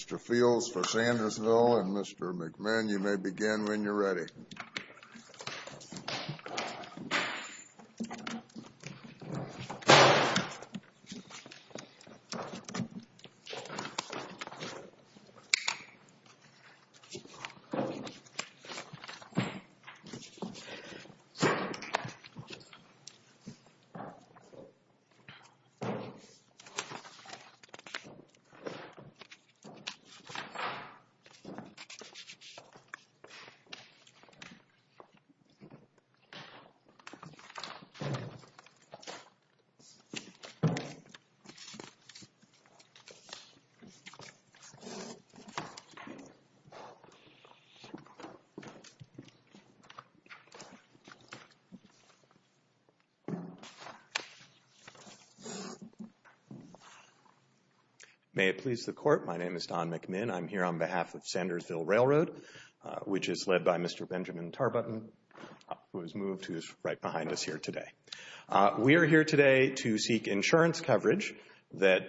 Mr. Fields for Sandersville and Mr. McMahon, you may begin when you're ready. May it please the Court, my name is Don McMahon. I'm here on behalf of Sandersville Railroad, which is led by Mr. Benjamin Tarbuten, who has moved, who is right behind us here today. We are here today to seek insurance coverage that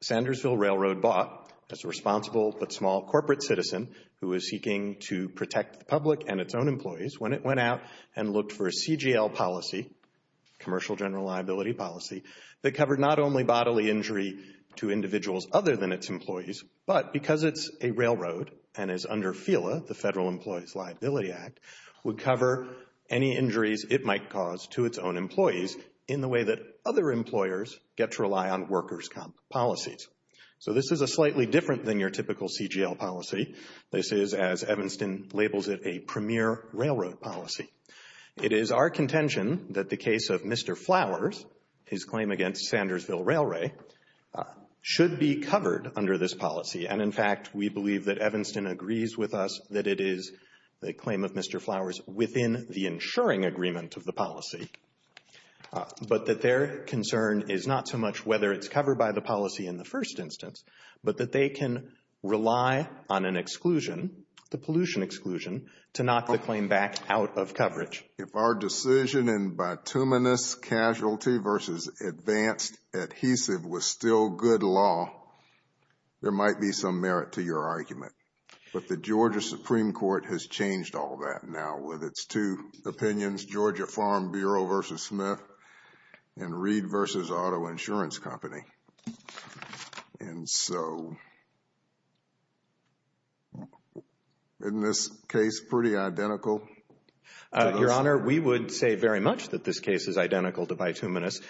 Sandersville Railroad bought as a responsible but small corporate citizen who was seeking to protect the public and its own employees when it went out and looked for a CGL policy, commercial general liability policy, that covered not only bodily injury to individuals other than its employees, but because it's a railroad and is under FILA, the Federal Employees Liability Act, would cover any injuries it might cause to its own employees in the way that other employers get to rely on workers' policies. So this is a slightly different than your typical CGL policy. This is, as Evanston labels it, a premier railroad policy. It is our contention that the case of Mr. Flowers, his claim against Sandersville Railway, should be covered under this policy. And, in fact, we believe that Evanston agrees with us that it is the claim of Mr. Flowers within the insuring agreement of the policy, but that their concern is not so much whether it's covered by the policy in the first instance, but that they can rely on an exclusion, the pollution exclusion, to knock the claim back out of coverage. If our decision in bituminous casualty versus advanced adhesive was still good law, there might be some merit to your argument. But the Georgia Supreme Court has changed all that now with its two opinions, Georgia Farm Bureau v. Smith and Reed v. Auto Insurance Company. And so, isn't this case pretty identical? Your Honor, we would say very much that this case is identical to bituminous,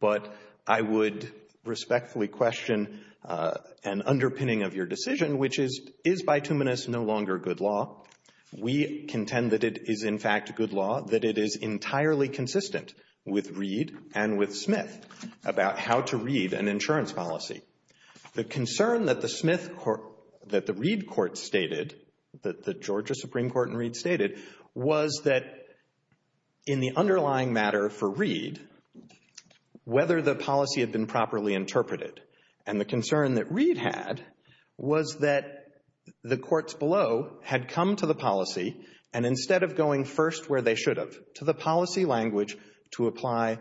but I would respectfully question an underpinning of your decision, which is, is bituminous no longer good law? We contend that it is, in fact, good law, that it is entirely consistent with Reed and with Smith about how to read an insurance policy. The concern that the Smith court, that the Reed court stated, that the Georgia Supreme Court and Reed stated, was that in the underlying matter for Reed, whether the policy had been properly interpreted. And the concern that Reed had was that the courts below had come to the policy, and instead of going first where they should have, to the policy language, to apply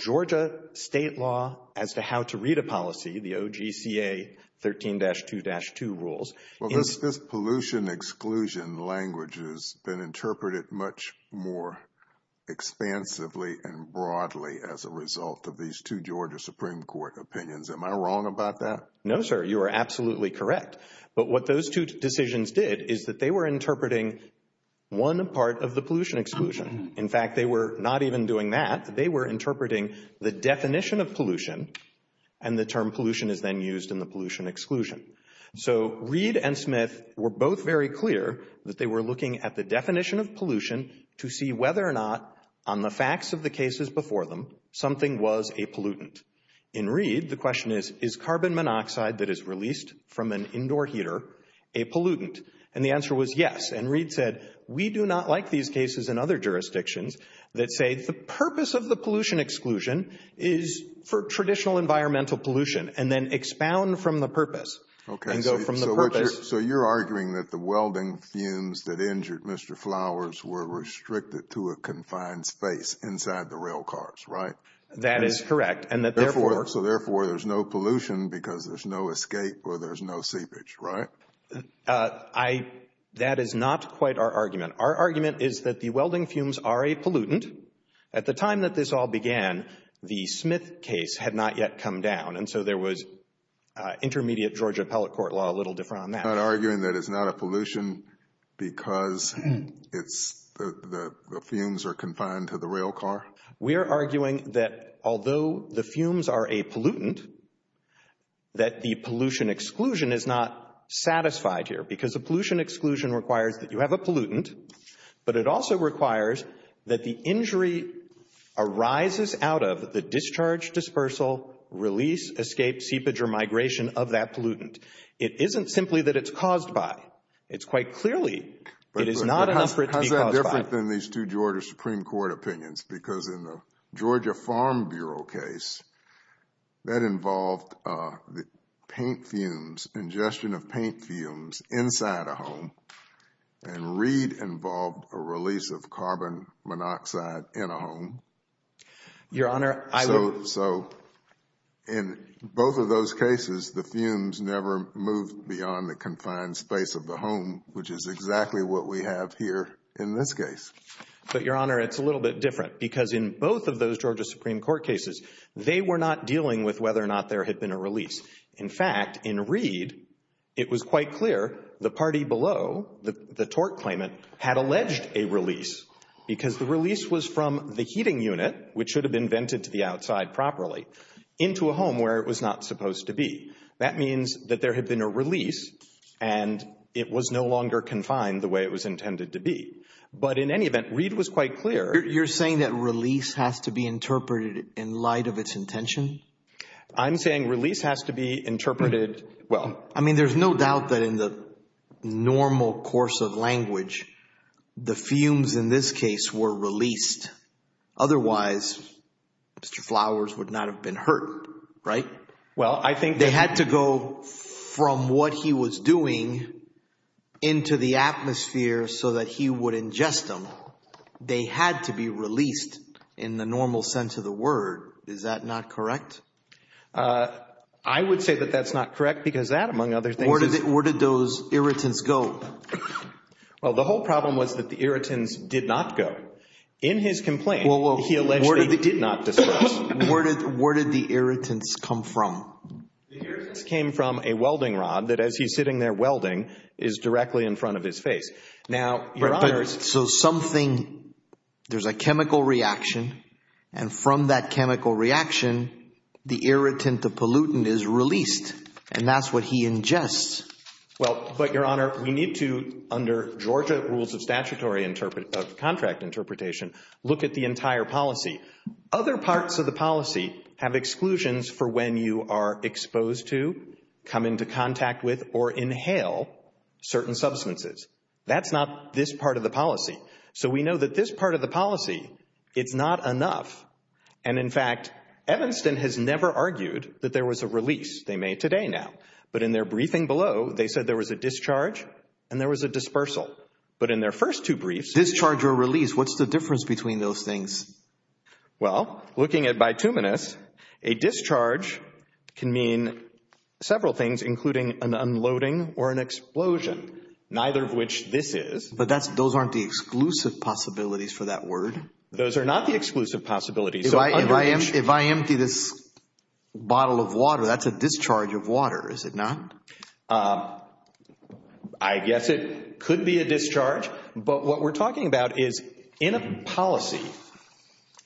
Georgia state law as to how to read a policy, the OGCA 13-2-2 rules. Well, this pollution exclusion language has been interpreted much more expansively and broadly as a result of these two Georgia Supreme Court opinions. Am I wrong about that? No, sir, you are absolutely correct. But what those two decisions did is that they were interpreting one part of the pollution exclusion. In fact, they were not even doing that. They were interpreting the definition of pollution, and the term pollution is then used in the pollution exclusion. So Reed and Smith were both very clear that they were looking at the definition of pollution to see whether or not, on the facts of the cases before them, something was a pollutant. In Reed, the question is, is carbon monoxide that is released from an indoor heater a pollutant? And the answer was yes. And Reed said, we do not like these cases in other jurisdictions that say the purpose of the pollution exclusion is for traditional environmental pollution and then expound from the purpose and go from the purpose. So you're arguing that the welding fumes that injured Mr. Flowers were restricted to a confined space inside the rail cars, right? That is correct. So therefore, there's no pollution because there's no escape or there's no seepage, right? That is not quite our argument. Our argument is that the welding fumes are a pollutant. At the time that this all began, the Smith case had not yet come down, and so there was intermediate Georgia appellate court law a little different on that. You're not arguing that it's not a pollution because the fumes are confined to the rail car? We are arguing that although the fumes are a pollutant, that the pollution exclusion is not satisfied here because the pollution exclusion requires that you have a pollutant, but it also requires that the injury arises out of the discharge, dispersal, release, escape, seepage, or migration of that pollutant. It isn't simply that it's caused by. It's quite clearly it is not an effort to be caused by. It's different than these two Georgia Supreme Court opinions because in the Georgia Farm Bureau case, that involved the paint fumes, ingestion of paint fumes inside a home, and Reed involved a release of carbon monoxide in a home. Your Honor, I would. So in both of those cases, the fumes never moved beyond the confined space of the home, which is exactly what we have here in this case. But, Your Honor, it's a little bit different because in both of those Georgia Supreme Court cases, they were not dealing with whether or not there had been a release. In fact, in Reed, it was quite clear the party below, the tort claimant, had alleged a release because the release was from the heating unit, which should have been vented to the outside properly, into a home where it was not supposed to be. That means that there had been a release and it was no longer confined the way it was intended to be. But in any event, Reed was quite clear. You're saying that release has to be interpreted in light of its intention? I'm saying release has to be interpreted, well. I mean, there's no doubt that in the normal course of language, the fumes in this case were released. Otherwise, Mr. Flowers would not have been hurt, right? Well, I think that. They had to go from what he was doing into the atmosphere so that he would ingest them. They had to be released in the normal sense of the word. Is that not correct? I would say that that's not correct because that, among other things. Where did those irritants go? Well, the whole problem was that the irritants did not go. In his complaint, he alleged they did not disperse. Where did the irritants come from? The irritants came from a welding rod that, as he's sitting there welding, is directly in front of his face. So something, there's a chemical reaction. And from that chemical reaction, the irritant, the pollutant, is released. And that's what he ingests. Well, but, Your Honor, we need to, under Georgia rules of statutory contract interpretation, look at the entire policy. Other parts of the policy have exclusions for when you are exposed to, come into contact with, or inhale certain substances. That's not this part of the policy. So we know that this part of the policy, it's not enough. And, in fact, Evanston has never argued that there was a release. They may today now. But in their briefing below, they said there was a discharge and there was a dispersal. But in their first two briefs. Discharge or release, what's the difference between those things? Well, looking at bituminous, a discharge can mean several things, including an unloading or an explosion. Neither of which this is. But those aren't the exclusive possibilities for that word. Those are not the exclusive possibilities. If I empty this bottle of water, that's a discharge of water, is it not? I guess it could be a discharge. But what we're talking about is, in a policy,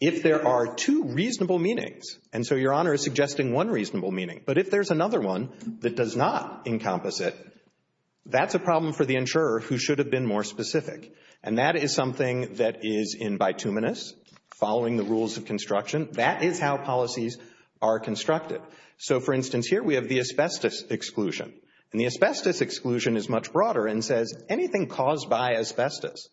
if there are two reasonable meanings. And so Your Honor is suggesting one reasonable meaning. But if there's another one that does not encompass it, that's a problem for the insurer who should have been more specific. And that is something that is in bituminous, following the rules of construction. That is how policies are constructed. So, for instance, here we have the asbestos exclusion. And the asbestos exclusion is much broader and says anything caused by asbestos.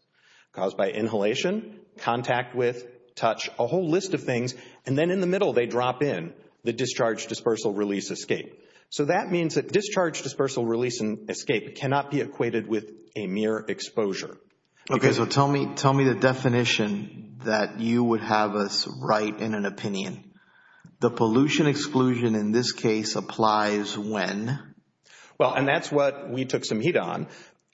Caused by inhalation, contact with, touch, a whole list of things. And then in the middle they drop in the discharge, dispersal, release, escape. So that means that discharge, dispersal, release, and escape cannot be equated with a mere exposure. Okay, so tell me the definition that you would have us write in an opinion. The pollution exclusion in this case applies when? Well, and that's what we took some heat on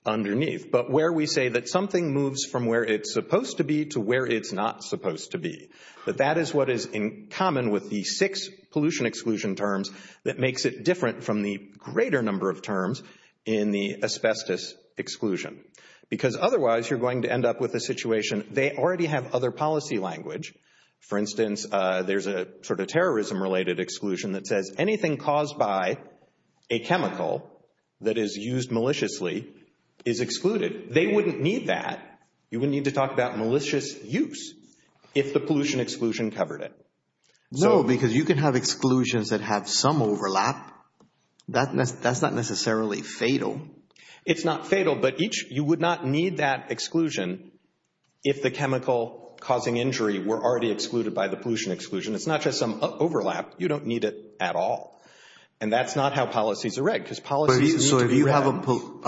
underneath. But where we say that something moves from where it's supposed to be to where it's not supposed to be. But that is what is in common with the six pollution exclusion terms that makes it different from the greater number of terms in the asbestos exclusion. Because otherwise you're going to end up with a situation, they already have other policy language. For instance, there's a sort of terrorism related exclusion that says anything caused by a chemical that is used maliciously is excluded. They wouldn't need that. You wouldn't need to talk about malicious use if the pollution exclusion covered it. No, because you can have exclusions that have some overlap. That's not necessarily fatal. It's not fatal, but you would not need that exclusion if the chemical causing injury were already excluded by the pollution exclusion. It's not just some overlap. You don't need it at all. And that's not how policies are read because policies need to be read. I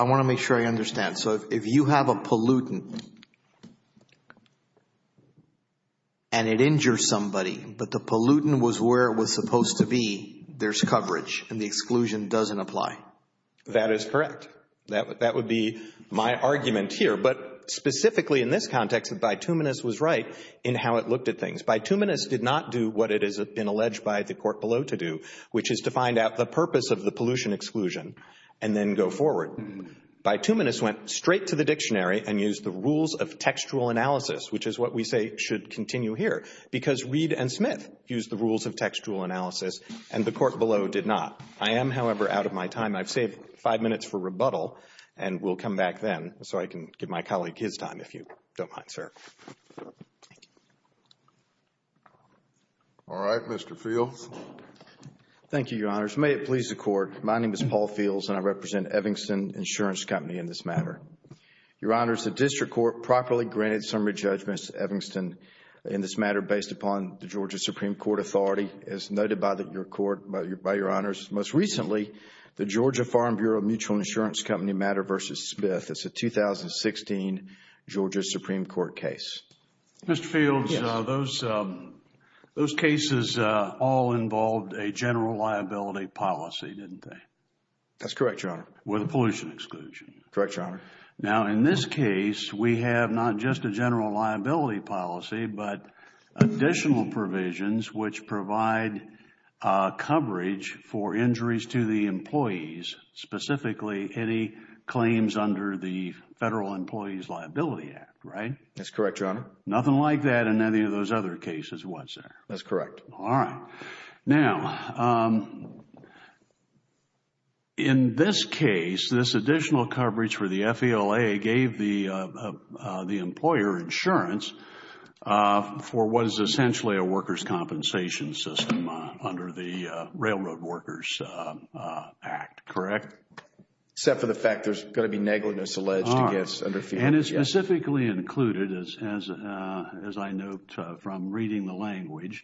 want to make sure I understand. So if you have a pollutant and it injures somebody, but the pollutant was where it was supposed to be, there's coverage and the exclusion doesn't apply. That is correct. That would be my argument here. But specifically in this context, Bituminous was right in how it looked at things. Bituminous did not do what it has been alleged by the court below to do, which is to find out the purpose of the pollution exclusion and then go forward. Bituminous went straight to the dictionary and used the rules of textual analysis, which is what we say should continue here, because Reed and Smith used the rules of textual analysis and the court below did not. I am, however, out of my time. I've saved five minutes for rebuttal and will come back then so I can give my colleague his time if you don't mind, sir. Thank you. All right. Mr. Fields. Thank you, Your Honors. May it please the Court. My name is Paul Fields and I represent Evangston Insurance Company in this matter. Your Honors, the district court properly granted summary judgment to Evangston in this matter based upon the Georgia Supreme Court authority. As noted by Your Honors, most recently, the Georgia Farm Bureau Mutual Insurance Company matter versus Smith. It's a 2016 Georgia Supreme Court case. Mr. Fields, those cases all involved a general liability policy, didn't they? That's correct, Your Honor. Correct, Your Honor. Now, in this case, we have not just a general liability policy but additional provisions which provide coverage for injuries to the employees, specifically any claims under the Federal Employees Liability Act, right? That's correct, Your Honor. Nothing like that in any of those other cases, was there? That's correct. All right. Now, in this case, this additional coverage for the FELA gave the employer insurance for what is essentially a workers' compensation system under the Railroad Workers Act, correct? Except for the fact there's going to be negligence alleged against under FELA. And it's specifically included, as I note from reading the language,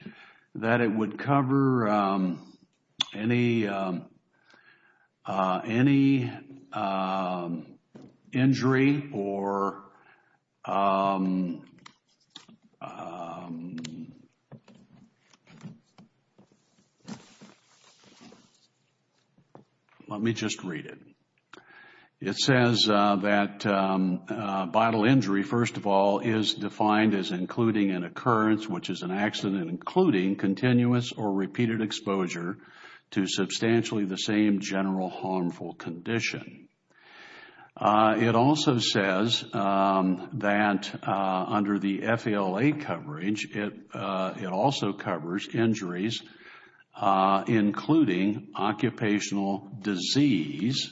that it would cover any injury or let me just read it. It says that vital injury, first of all, is defined as including an occurrence which is an accident including continuous or repeated exposure to substantially the same general harmful condition. It also says that under the FELA coverage, it also covers injuries including occupational disease.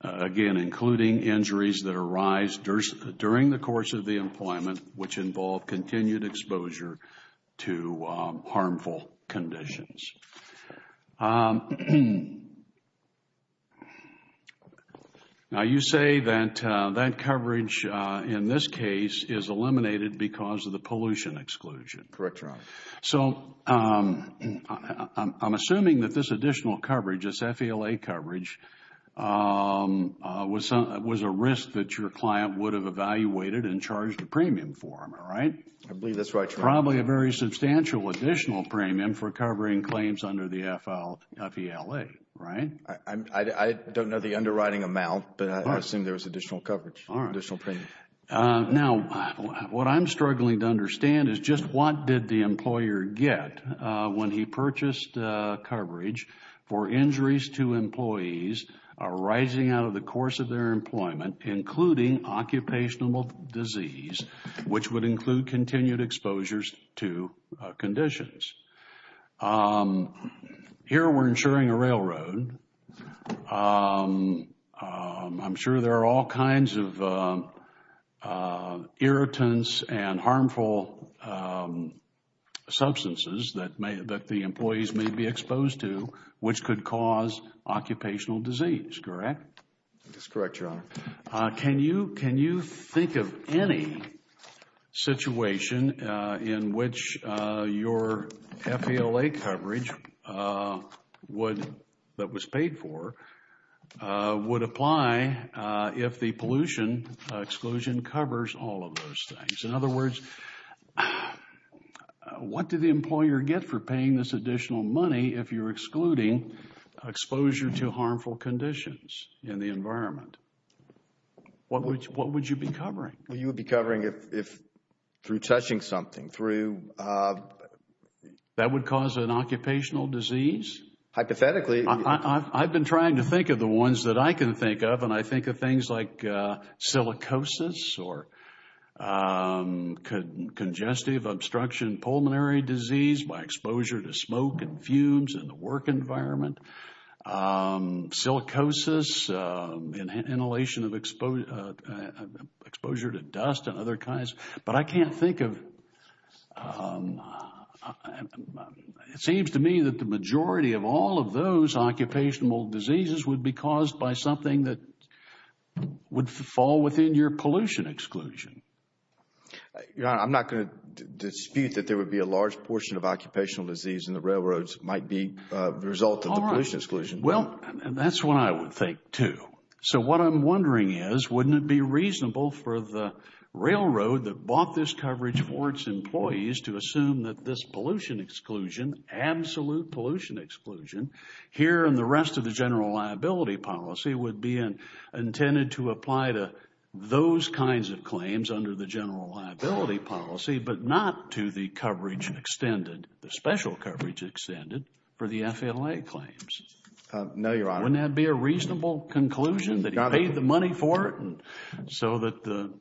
Again, including injuries that arise during the course of the employment which involve continued exposure to harmful conditions. Now, you say that that coverage in this case is eliminated because of the pollution exclusion. Correct, Your Honor. So, I'm assuming that this additional coverage, this FELA coverage, was a risk that your client would have evaluated and charged a premium for them, right? I believe that's right, Your Honor. Probably a very substantial additional premium for covering claims under the FELA, right? I don't know the underwriting amount, but I assume there was additional coverage, additional premium. All right. Now, what I'm struggling to understand is just what did the employer get when he purchased coverage for injuries to employees arising out of the course of their employment, including occupational disease, which would include continued exposures to conditions. Here, we're insuring a railroad. I'm sure there are all kinds of irritants and harmful substances that the employees may be exposed to which could cause occupational disease, correct? Can you think of any situation in which your FELA coverage that was paid for would apply if the pollution exclusion covers all of those things? In other words, what did the employer get for paying this additional money if you're excluding exposure to harmful conditions in the environment? What would you be covering? You would be covering if through touching something, through... That would cause an occupational disease? Hypothetically... I've been trying to think of the ones that I can think of, and I think of things like silicosis or congestive obstruction pulmonary disease by exposure to smoke and fumes in the work environment, silicosis, inhalation of exposure to dust and other kinds. But I can't think of... It seems to me that the majority of all of those occupational diseases would be caused by something that would fall within your pollution exclusion. Your Honor, I'm not going to dispute that there would be a large portion of occupational disease in the railroads that might be the result of the pollution exclusion. All right. Well, that's what I would think too. So what I'm wondering is, wouldn't it be reasonable for the railroad that bought this coverage for its employees to assume that this pollution exclusion, absolute pollution exclusion, here in the rest of the general liability policy would be intended to apply to those kinds of claims under the general liability policy, but not to the coverage extended, the special coverage extended for the FLA claims? No, Your Honor. Wouldn't that be a reasonable conclusion that he paid the money for it? So that the...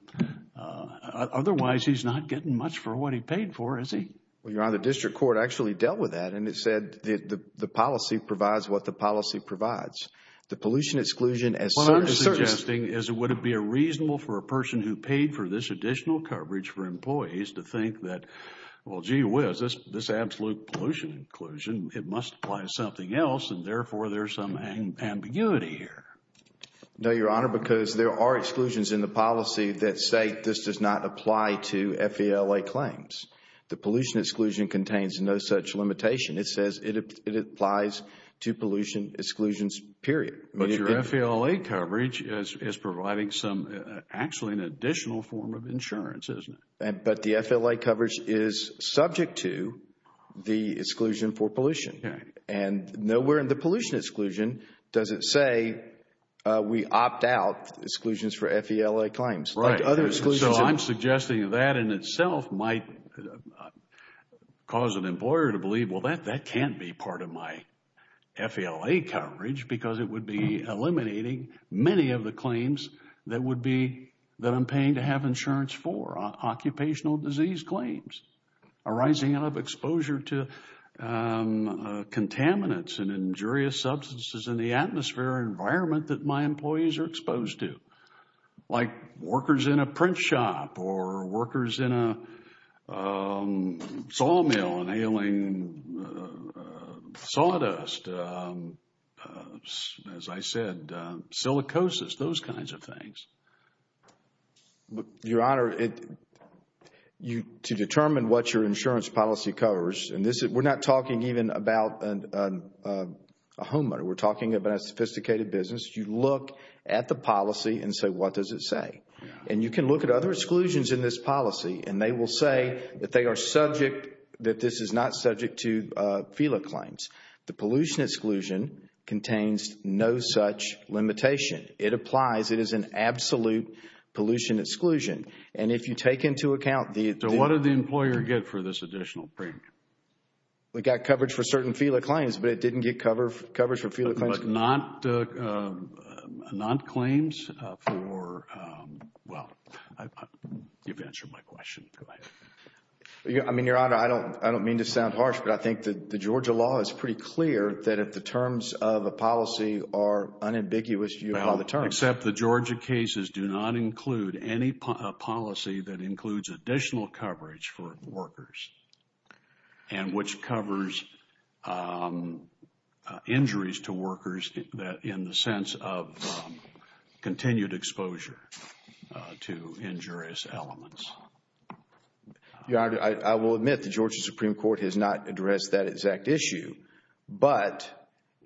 Otherwise, he's not getting much for what he paid for, is he? Well, Your Honor, the district court actually dealt with that and it said the policy provides what the policy provides. The pollution exclusion as such... What I'm wondering is, would it be reasonable for a person who paid for this additional coverage for employees to think that, well, gee whiz, this absolute pollution inclusion, it must apply to something else and therefore, there's some ambiguity here. No, Your Honor, because there are exclusions in the policy that say this does not apply to FLA claims. The pollution exclusion contains no such limitation. It says it applies to pollution exclusions, period. But your FLA coverage is providing some, actually an additional form of insurance, isn't it? But the FLA coverage is subject to the exclusion for pollution. Okay. And nowhere in the pollution exclusion does it say we opt out exclusions for FLA claims. Right. Like other exclusions... many of the claims that would be, that I'm paying to have insurance for. Occupational disease claims arising out of exposure to contaminants and injurious substances in the atmosphere environment that my employees are exposed to. Like workers in a print shop or workers in a sawmill inhaling sawdust. As I said, silicosis, those kinds of things. Your Honor, to determine what your insurance policy covers, and we're not talking even about a homeowner. We're talking about a sophisticated business. You look at the policy and say, what does it say? And you can look at other exclusions in this policy and they will say that they are subject, that this is not subject to FLA claims. The pollution exclusion contains no such limitation. It applies. It is an absolute pollution exclusion. And if you take into account the... So what did the employer get for this additional premium? We got coverage for certain FLA claims, but it didn't get coverage for FLA claims. But not claims for... Well, you've answered my question. I mean, Your Honor, I don't mean to sound harsh, but I think that the Georgia law is pretty clear that if the terms of a policy are unambiguous, you have all the terms. Except the Georgia cases do not include any policy that includes additional coverage for workers and which covers injuries to workers in the sense of continued exposure to injurious elements. Your Honor, I will admit the Georgia Supreme Court has not addressed that exact issue. But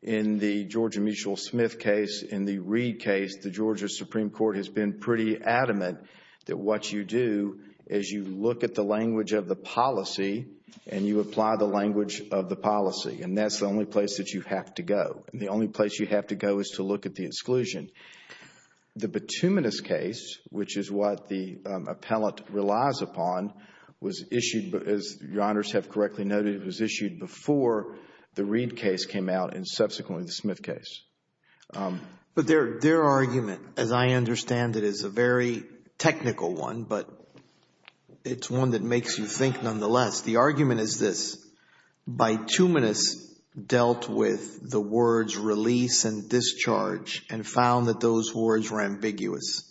in the Georgia Mitchell Smith case, in the Reed case, the Georgia Supreme Court has been pretty adamant that what you do is you look at the language of the policy and you apply the language of the policy. And that's the only place that you have to go. And the only place you have to go is to look at the exclusion. The Bituminous case, which is what the appellate relies upon, was issued, as Your Honors have correctly noted, was issued before the Reed case came out and subsequently the Smith case. But their argument, as I understand it, is a very technical one, but it's one that makes you think nonetheless. The argument is this. Bituminous dealt with the words release and discharge and found that those words were ambiguous.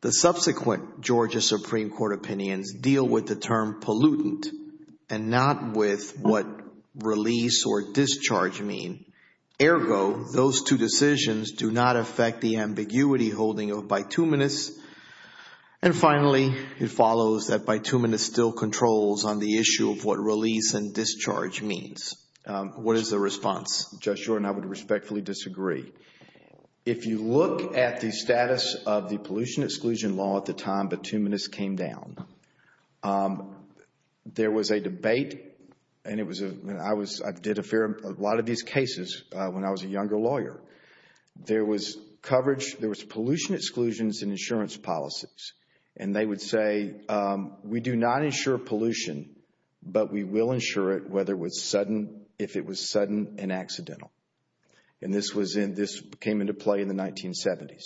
The subsequent Georgia Supreme Court opinions deal with the term pollutant and not with what release or discharge mean. Ergo, those two decisions do not affect the ambiguity holding of Bituminous. And finally, it follows that Bituminous still controls on the issue of what release and discharge means. What is the response? Judge Shorten, I would respectfully disagree. If you look at the status of the pollution exclusion law at the time Bituminous came down, there was a debate. I did a lot of these cases when I was a younger lawyer. There was pollution exclusions in insurance policies. And they would say, we do not insure pollution, but we will insure it if it was sudden and accidental. And this came into play in the 1970s.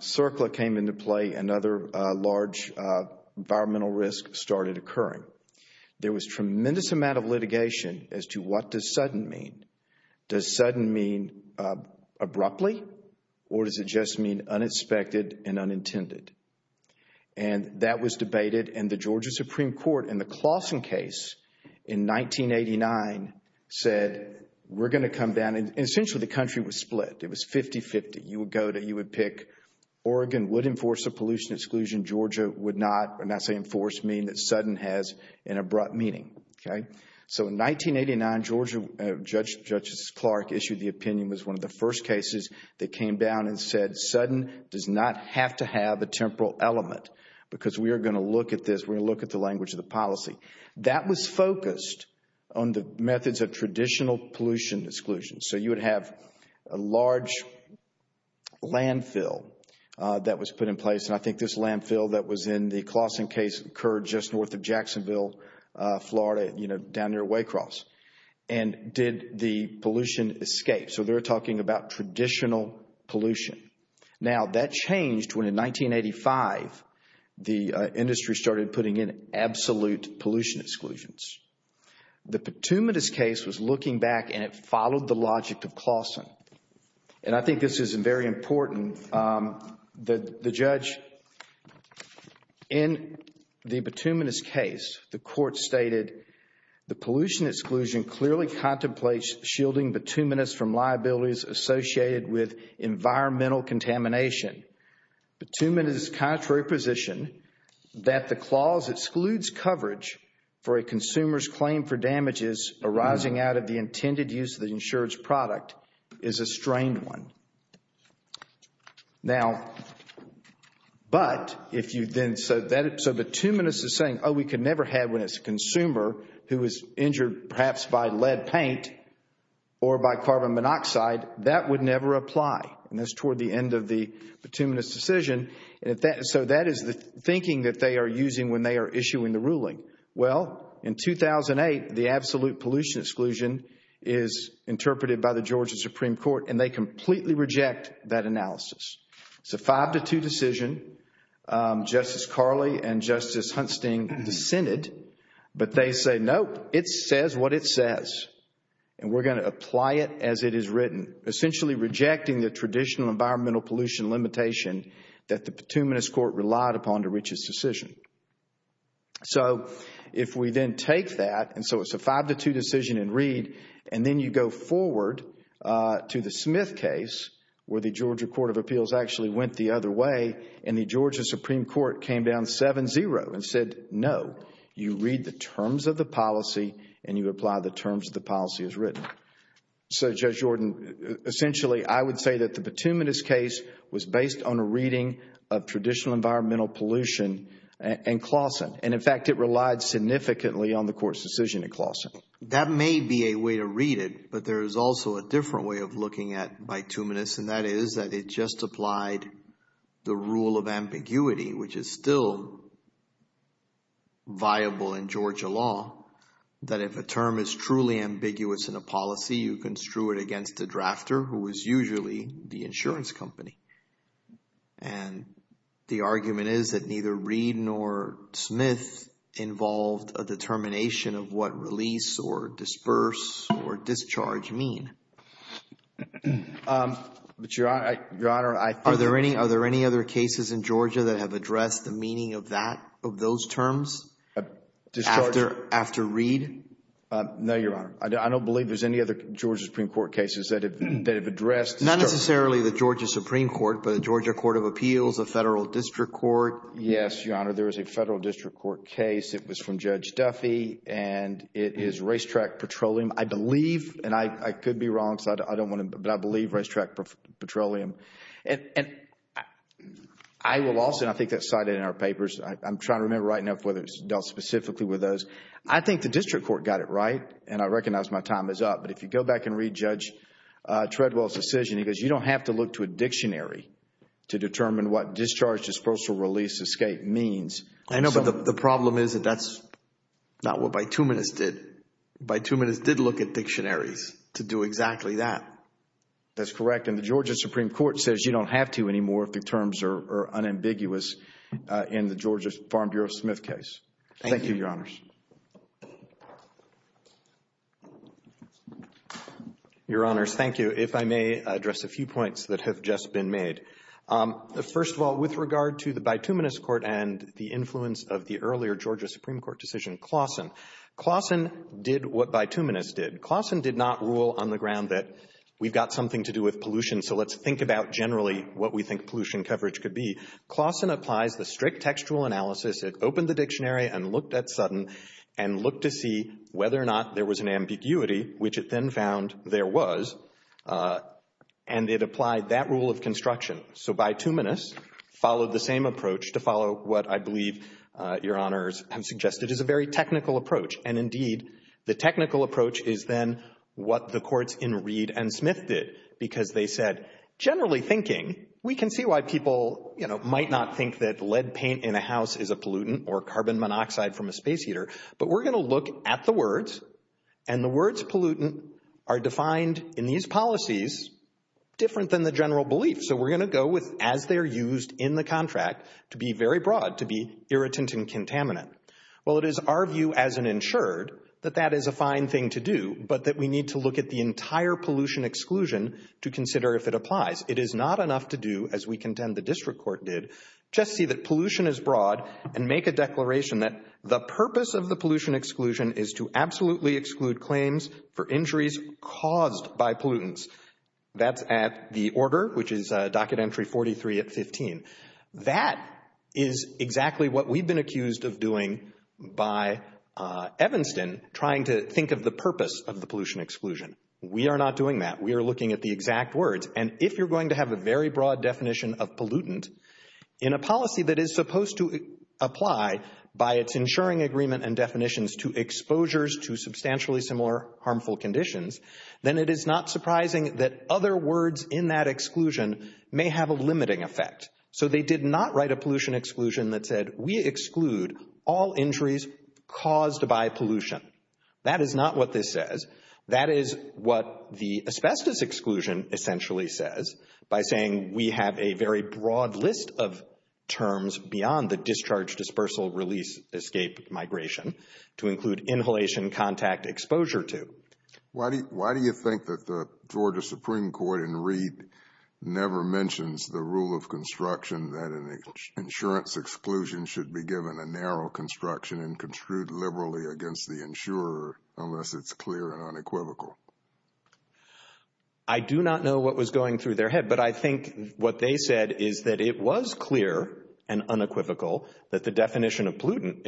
CERCLA came into play. Another large environmental risk started occurring. There was tremendous amount of litigation as to what does sudden mean. Does sudden mean abruptly? Or does it just mean unexpected and unintended? And that was debated. And the Georgia Supreme Court in the Claussen case in 1989 said, we're going to come down. And essentially, the country was split. It was 50-50. You would go to, you would pick Oregon would enforce a pollution exclusion. Georgia would not. When I say enforce, I mean that sudden has an abrupt meaning. So in 1989, Judge Clark issued the opinion. It was one of the first cases that came down and said, sudden does not have to have a temporal element. Because we are going to look at this, we're going to look at the language of the policy. That was focused on the methods of traditional pollution exclusion. So you would have a large landfill that was put in place. And I think this landfill that was in the Claussen case occurred just north of Jacksonville, Florida, down near Waycross. And did the pollution escape? So they're talking about traditional pollution. Now, that changed when in 1985, the industry started putting in absolute pollution exclusions. The Petumidas case was looking back and it followed the logic of Claussen. And I think this is very important. The judge in the Petumidas case, the court stated, the pollution exclusion clearly contemplates shielding Petumidas from liabilities associated with environmental contamination. Petumidas' contrary position that the clause excludes coverage for a consumer's claim for damages arising out of the intended use of the insured's product is a strained one. Now, but if you then said that, so Petumidas is saying, oh, we could never have when it's a consumer who is injured perhaps by lead paint or by carbon monoxide, that would never apply. And that's toward the end of the Petumidas decision. So that is the thinking that they are using when they are issuing the ruling. Well, in 2008, the absolute pollution exclusion is interpreted by the Georgia Supreme Court and they completely reject that analysis. It's a five to two decision. Justice Carley and Justice Huntsting dissented. But they say, nope, it says what it says. And we're going to apply it as it is written, essentially rejecting the traditional environmental pollution limitation that the Petumidas court relied upon to reach its decision. So if we then take that, and so it's a five to two decision and read, and then you go forward to the Smith case where the Georgia Court of Appeals actually went the other way and the Georgia Supreme Court came down 7-0 and said, no, you read the terms of the policy and you apply the terms of the policy as written. So, Judge Jordan, essentially I would say that the Petumidas case was based on a reading of traditional environmental pollution and Clawson, and in fact, it relied significantly on the court's decision at Clawson. That may be a way to read it, but there is also a different way of looking at Petumidas, and that is that it just applied the rule of ambiguity, which is still viable in Georgia law, that if a term is truly ambiguous in a policy, you construe it against the drafter, who is usually the insurance company. And the argument is that neither read nor Smith involved a determination of what release or disperse or discharge mean. But, Your Honor, I think... Are there any other cases in Georgia that have addressed the meaning of that, of those terms? Discharge... After read? No, Your Honor. I don't believe there's any other Georgia Supreme Court cases that have addressed... Not necessarily the Georgia Supreme Court, but the Georgia Court of Appeals, the Federal District Court... Yes, Your Honor, there is a Federal District Court case. It was from Judge Duffy, and it is racetrack petroleum. I believe, and I could be wrong, but I believe racetrack petroleum. And I will also, and I think that's cited in our papers, I'm trying to remember right now whether it's dealt specifically with those. I think the District Court got it right, and I recognize my time is up. But if you go back and read Judge Treadwell's decision, he goes, you don't have to look to a dictionary to determine what discharge, disperse, or release, escape means. I know, but the problem is that that's not what bituminous did. Bituminous did look at dictionaries to do exactly that. That's correct, and the Georgia Supreme Court says you don't have to anymore if the terms are unambiguous in the Georgia Farm Bureau Smith case. Thank you, Your Honors. Your Honors, thank you. If I may address a few points that have just been made. First of all, with regard to the bituminous court and the influence of the earlier Georgia Supreme Court decision, Clausen, Clausen did what bituminous did. Clausen did not rule on the ground that we've got something to do with pollution, so let's think about generally what we think pollution coverage could be. Clausen applies the strict textual analysis. It opened the dictionary and looked at Sutton and looked to see whether or not there was an ambiguity, which it then found there was, and it applied that rule of construction. So bituminous followed the same approach to follow what I believe Your Honors have suggested is a very technical approach. And indeed, the technical approach is then what the courts in Reed and Smith did, because they said, generally thinking, we can see why people, you know, might not think that lead paint in a house is a pollutant or carbon monoxide from a space heater, but we're going to look at the words, and the words pollutant are defined in these policies different than the general belief. So we're going to go with as they're used in the contract to be very broad, to be irritant and contaminant. Well, it is our view as an insured that that is a fine thing to do, but that we need to look at the entire pollution exclusion to consider if it applies. It is not enough to do, as we contend the district court did, just see that pollution is broad and make a declaration that the purpose of the pollution exclusion is to absolutely exclude claims for injuries caused by pollutants. That's at the order, which is docket entry 43 at 15. That is exactly what we've been accused of doing by Evanston trying to think of the purpose of the pollution exclusion. We are not doing that. We are looking at the exact words. And if you're going to have a very broad definition of pollutant in a policy that is supposed to apply by its ensuring agreement and definitions to exposures to substantially similar harmful conditions, then it is not surprising that other words in that exclusion may have a limiting effect. So they did not write a pollution exclusion that said we exclude all injuries caused by pollution. That is not what this says. That is what the asbestos exclusion essentially says by saying we have a very broad list of terms beyond the discharge, dispersal, release, escape, migration to include inhalation, contact, exposure to. Why do you think that the Georgia Supreme Court in Reed never mentions the rule of construction that an insurance exclusion should be given a narrow construction and construed liberally against the insurer unless it's clear and unequivocal? I do not know what was going through their head, but I think what they said is that it was clear and unequivocal that the definition of pollutant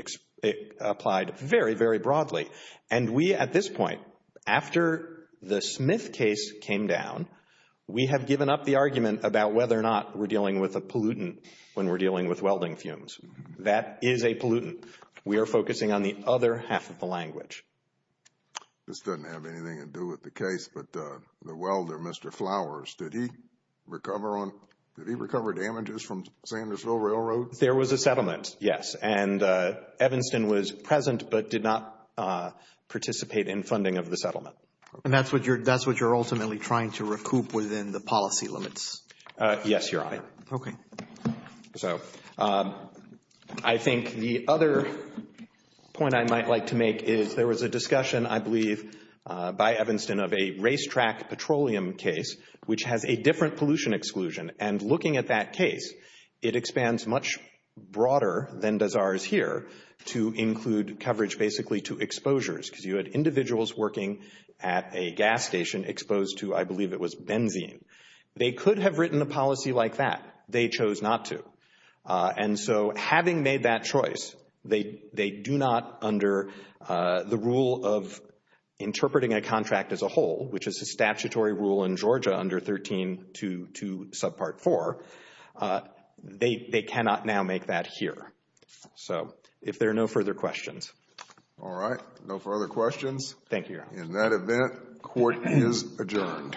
applied very, very broadly. And we at this point, after the Smith case came down, we have given up the argument about whether or not we're dealing with a pollutant when we're dealing with welding fumes. That is a pollutant. We are focusing on the other half of the language. This doesn't have anything to do with the case, but the welder, Mr. Flowers, did he recover damages from Sandersville Railroad? There was a settlement, yes. And Evanston was present but did not participate in funding of the settlement. And that's what you're ultimately trying to recoup within the policy limits? Yes, Your Honor. Okay. So I think the other point I might like to make is there was a discussion, I believe, by Evanston of a racetrack petroleum case which has a different pollution exclusion. And looking at that case, it expands much broader than does ours here to include coverage basically to exposures because you had individuals working at a gas station exposed to, I believe it was benzene. They could have written a policy like that. They chose not to. And so having made that choice, they do not under the rule of interpreting a contract as a whole, which is a statutory rule in Georgia under 1322 subpart 4, they cannot now make that here. So if there are no further questions. All right. No further questions. Thank you, Your Honor. In that event, court is adjourned.